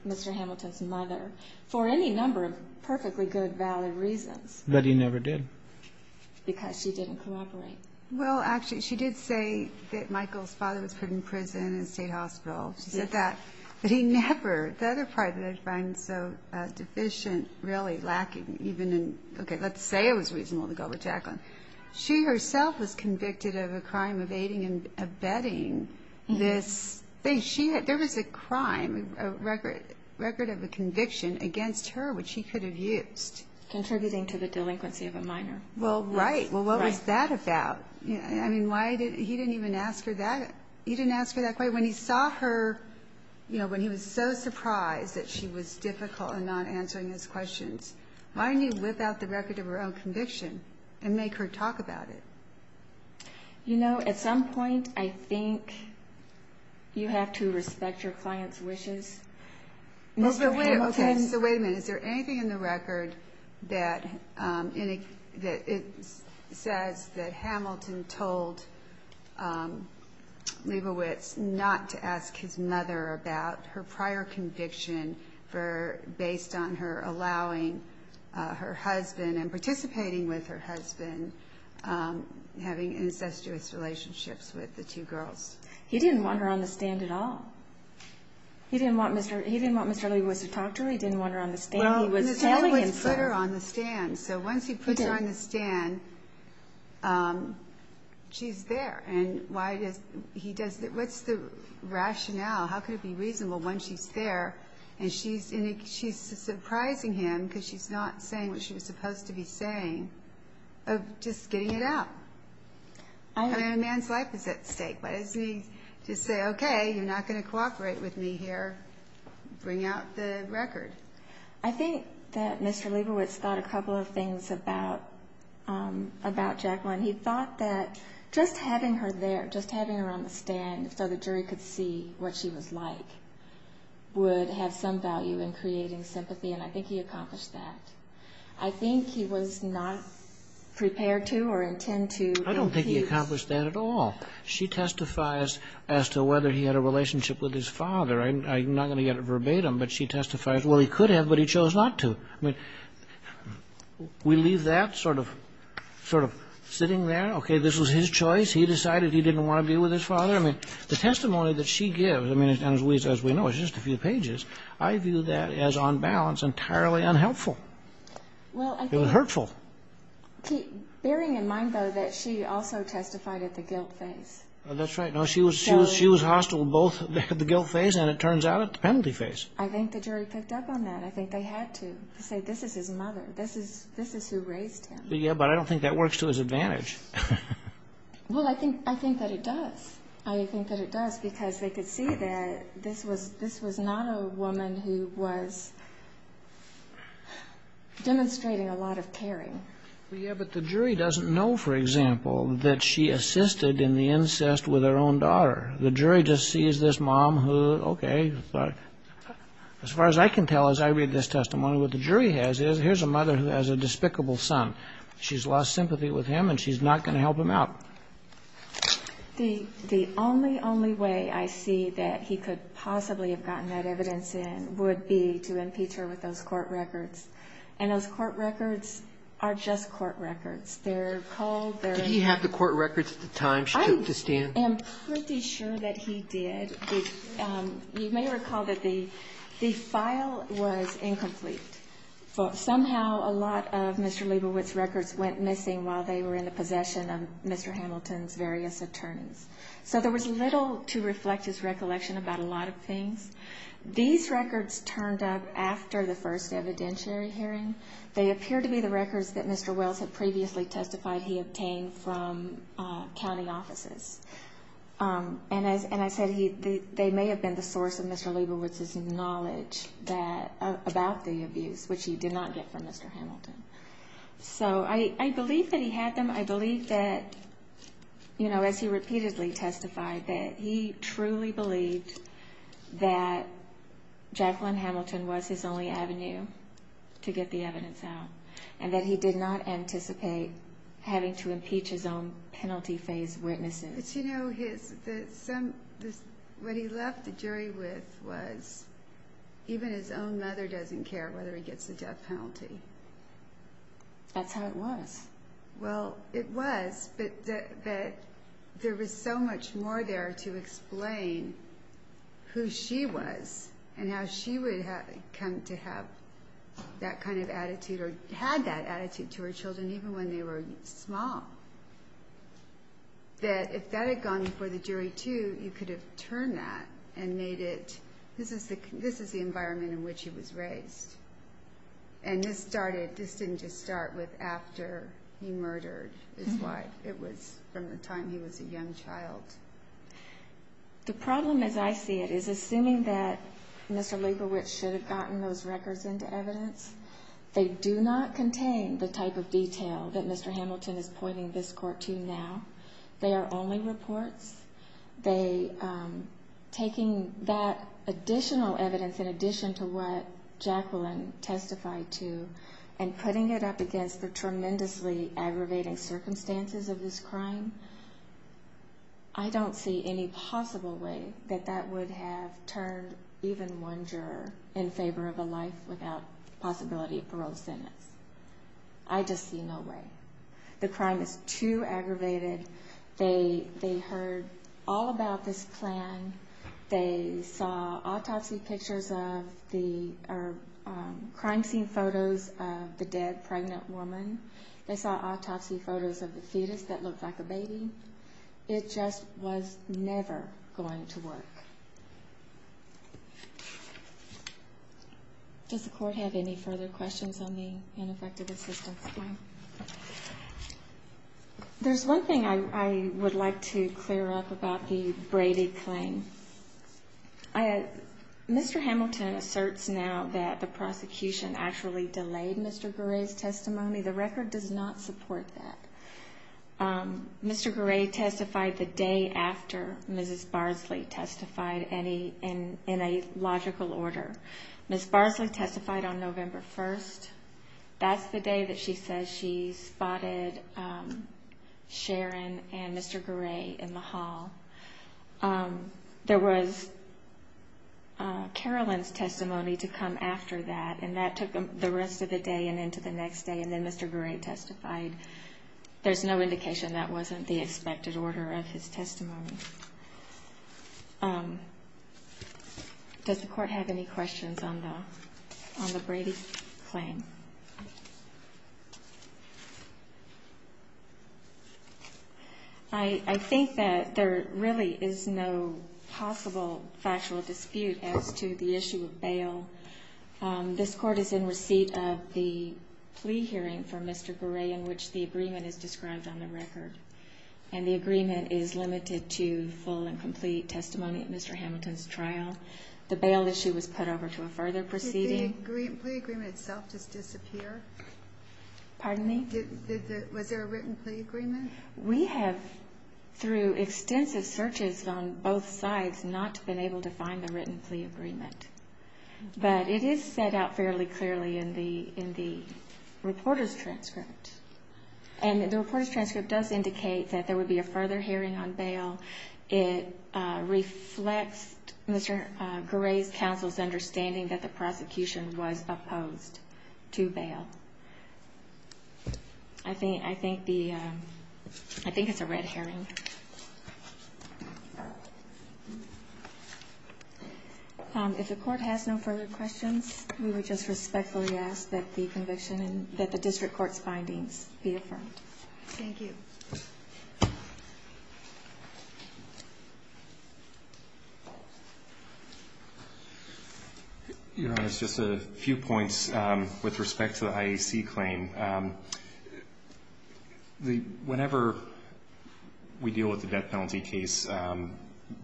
Mr. Hamilton's mother for any number of perfectly good valid reasons but he never did because she didn't cooperate well actually she did say that Michael's father was put in prison in a state hospital but he never the other part that I find so deficient really lacking let's say it was reasonable to go with Jacqueline she herself was convicted of a crime of aiding and abetting this there was a crime record of a conviction against her which he could have used contributing to the delinquency of a minor well right well what was that about I mean why he didn't even ask her that when he saw her you know when he was so surprised that she was difficult in not answering his questions why didn't he whip out the record of her own conviction you know at some point I think you have to respect your client's wishes so wait a minute is there anything in the record that says that Hamilton told Lebowitz not to ask his mother about her prior conviction based on her allowing her husband and participating with her husband having incestuous relationships with the two girls he didn't want her on the stand at all he didn't want Mr. Lebowitz to talk to her he didn't want her on the stand so once he puts her on the stand um she's there what's the rationale how could it be reasonable when she's there and she's surprising him because she's not saying what she was supposed to be saying of just getting it out a man's life is at stake what does it mean to say okay you're not going to cooperate with me here bring out the record I think that Mr. Lebowitz thought a couple of things about um about Jacqueline he thought that just having her there just having her on the stand so the jury could see what she was like would have some value in creating sympathy and I think he accomplished that I think he was not prepared to or intend to I don't think he accomplished that at all she testifies as to whether he had a relationship with his father I'm not going to get it verbatim but she testifies well he could have but he chose not to I mean we leave that sort of sitting there okay this was his choice he decided he didn't want to be with his father I mean the testimony that she gives and as we know it's just a few pages I view that as on balance entirely unhelpful it was hurtful bearing in mind though that she also testified at the guilt phase that's right she was hostile both at the guilt phase and it turns out at the penalty phase I think the jury picked up on that I think they had to say this is his mother this is who raised him yeah but I don't think that works to his advantage well I think that it does I think that it does because they could see that this was not a woman who was demonstrating a lot of caring yeah but the jury doesn't know for example that she assisted in the incest with her own daughter the jury just sees this mom who okay as far as I can tell as I read this testimony what the jury has is here's a mother who has a despicable son she's lost sympathy with him and she's not going to help him out the only only way I see that he could possibly have gotten that evidence in would be to impeach her with those court records and those court records are just court records did he have the court records at the time I am pretty sure that he did you may recall that the the file was incomplete but somehow a lot of Mr. Liebowitz's records went missing while they were in the possession of Mr. Hamilton's various attorneys so there was little to reflect his recollection about a lot of things these records turned up after the first evidentiary hearing they appear to be the records that Mr. Wells had previously testified he obtained from county offices and as I said they may have been the source of Mr. Liebowitz's knowledge that about the abuse which he did not get from Mr. Hamilton so I believe that he had them I believe that as he repeatedly testified that he truly believed that Jacqueline Hamilton was his only avenue to get the evidence out and that he did not anticipate having to impeach his own penalty phase witnesses but you know his what he left the jury with was even his own mother doesn't care whether he gets a death penalty that's how it was well it was but there was so much more there to explain who she was and how she would come to have that kind of attitude or had that attitude to her children even when they were small that if that had gone before the jury too you could have turned that and made it this is the environment in which he was raised and this started this didn't just start with after he murdered his wife it was from the time he was a young child the problem as I see it is assuming that Mr. Liebowitz should have gotten those records into evidence they do not contain the type of detail that Mr. Hamilton is pointing this court to now they are only reports they taking that additional evidence in addition to what Jacqueline testified to and putting it up against the tremendously aggravating circumstances of this crime I don't see any possible way that that would have turned even one juror in favor of a life without possibility of parole sentence I just see no way the crime is too aggravated they heard all about this plan they saw autopsy pictures of crime scene photos of the dead pregnant woman, they saw autopsy photos of the fetus that looked like a baby it just was never going to work does the court have any further questions on the ineffective assistance plan there's one thing I would like to clear up about the Brady claim Mr. Hamilton asserts now that the prosecution actually delayed Mr. Garay's testimony the record does not support that Mr. Garay testified the day after Mrs. Barsley testified in a logical order Mrs. Barsley testified on November 1st that's the day that she says she spotted Sharon and Mr. Garay in the hall there was Carolyn's testimony to come after that and that took the rest of the day and into the next day and then Mr. Garay testified there's no indication that wasn't the expected order of his testimony does the court have any questions on the Brady claim I think that there really is no possible factual dispute as to the issue of bail this court is in receipt of the plea hearing for Mr. Garay in which the agreement is described on the record and the agreement is limited to full and complete testimony at Mr. Hamilton's trial the bail issue was put over to a further proceeding did the plea agreement itself just describe disappear was there a written plea agreement we have through extensive searches on both sides not been able to find the written plea agreement but it is set out fairly clearly in the reporter's transcript and the reporter's transcript does indicate that there would be a further hearing on bail it reflects Mr. Garay's counsel's understanding that the prosecution was opposed to bail I think it's a red herring if the court has no further questions we would just respectfully ask that the district court's findings be affirmed thank you your honor just a few points with respect to the IAC claim whenever we deal with the death penalty case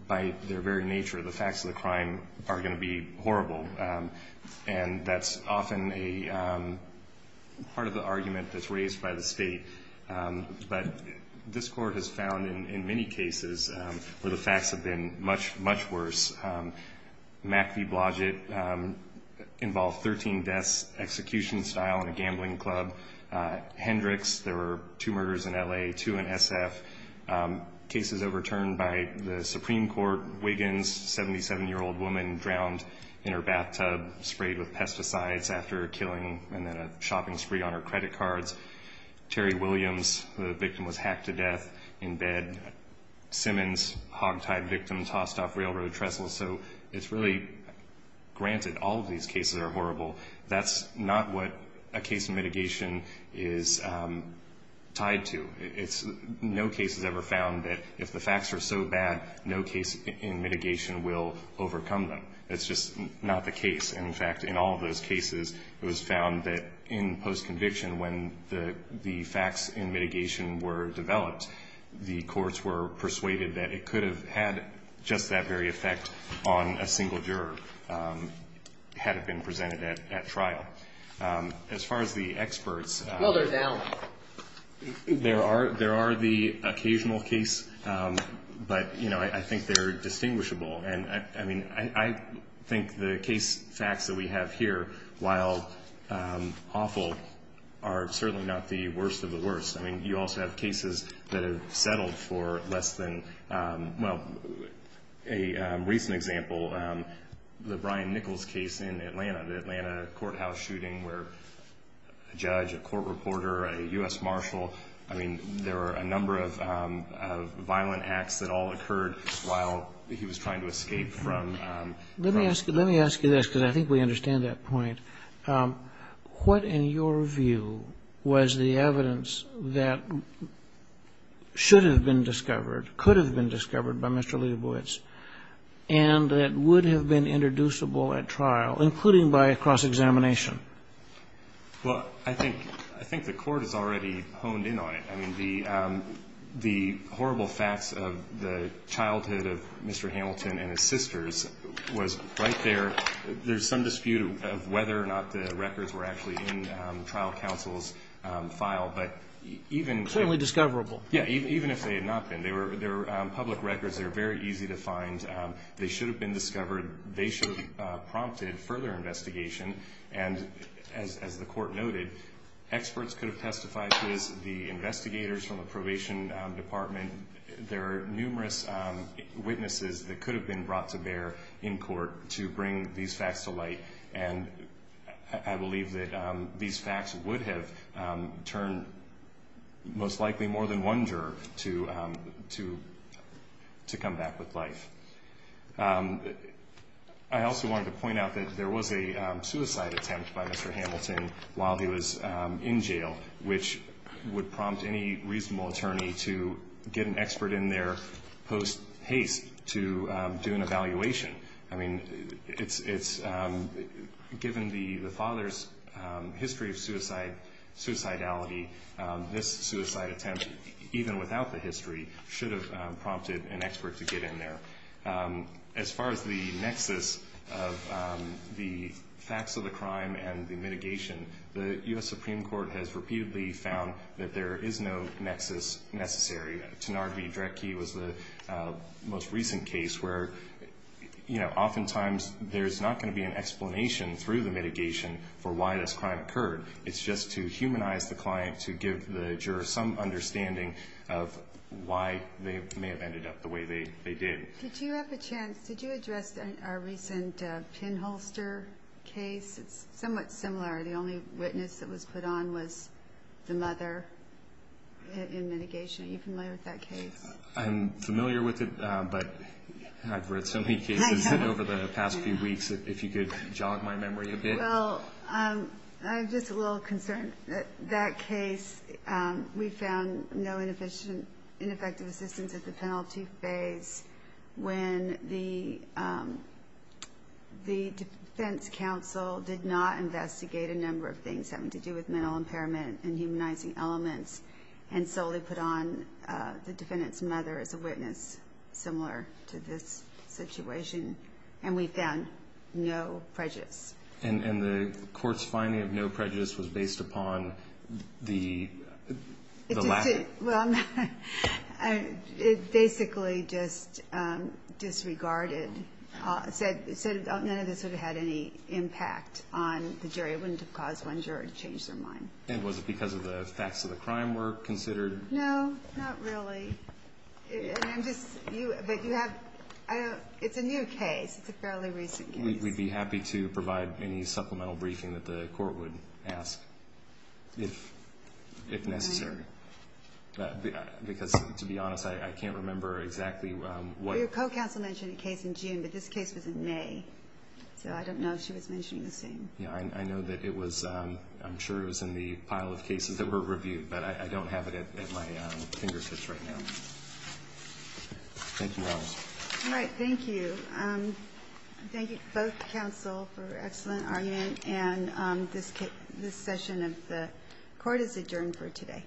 by their very nature the facts of the crime are going to be horrible and that's often a part of the argument that's raised by the state but this court has found in many cases where the facts have been much worse Mack v. Blodgett involved 13 deaths execution style in a gambling club Hendrix there were two murders in LA, two in SF cases overturned by the Supreme Court, Wiggins 77 year old woman drowned in her bathtub sprayed with pesticides after killing and then a Terry Williams, the victim was hacked to death in bed Simmons, hog tied victim tossed off railroad trestles granted all of these cases are horrible that's not what a case of mitigation is tied to no case has ever found that if the facts are so bad no case in mitigation will overcome them it's just not the case in fact in all those cases it was found that in post conviction when the facts in mitigation were developed the courts were persuaded that it could have had just that very effect on a single juror had it been presented at trial as far as the experts there are the occasional case but I think they're distinguishable I think the case the facts that we have here while awful are certainly not the worst of the worst you also have cases that have settled for less than well a recent example the Brian Nichols case in Atlanta the Atlanta courthouse shooting where a judge, a court reporter a U.S. Marshal there were a number of violent acts that all occurred while he was trying to escape let me ask you this because I think we understand that point what in your view was the evidence that should have been discovered could have been discovered by Mr. Leibowitz and that would have been introducible at trial including by a cross-examination I think the court has already honed in on it the horrible facts of the childhood of Mr. Hamilton and his sisters was right there there's some dispute of whether or not the records were actually in trial counsel's file certainly discoverable even if they had not been public records are very easy to find they should have been discovered they should have prompted further investigation and as the court noted experts could have testified to this the investigators from the probation department there are numerous witnesses that could have been brought to bear in court to bring these facts to light I believe that these facts would have turned most likely more than one juror to come back with life I also wanted to point out that there was a suicide attempt by Mr. Hamilton while he was in jail which would prompt any reasonable attorney to get an expert in there post haste to do an evaluation I mean it's given the father's history of suicide suicidality this suicide attempt even without the history should have prompted an expert to get in there as far as the nexus of the facts of the crime and the mitigation the U.S. Supreme Court has repeatedly found that there is no nexus necessary Tenard v. Drecke was the most recent case where often times there's not going to be an explanation through the mitigation for why this crime occurred it's just to humanize the client to give the juror some understanding of why they may have ended up the way they did Did you address our recent pin holster case? It's somewhat similar the only witness that was put on was the mother in mitigation. Are you familiar with that case? I'm familiar with it but I've read so many cases over the past few weeks if you could jog my memory a bit Well, I'm just a little concerned. That case we found no ineffective assistance at the penalty phase when the the defense counsel did not investigate a number of things having to do with mental impairment and humanizing elements and solely put on the defendant's mother as a witness similar to this situation and we found no prejudice And the court's finding of no prejudice was based upon the lack It basically just disregarded said none of this would have had any impact on the jury. It wouldn't have caused one juror to change their mind. And was it because of the facts of the crime were considered? No, not really It's a new case It's a fairly recent case. We'd be happy to provide any supplemental briefing that the court would ask if necessary because to be honest I can't remember exactly Your co-counsel mentioned a case in June but this case was in May so I don't know if she was mentioning the same I know that it was I'm sure it was in the pile of cases that were reviewed but I don't have it at my fingertips right now Thank you Alright, thank you Thank both counsel for excellent argument and this session of the court is adjourned for today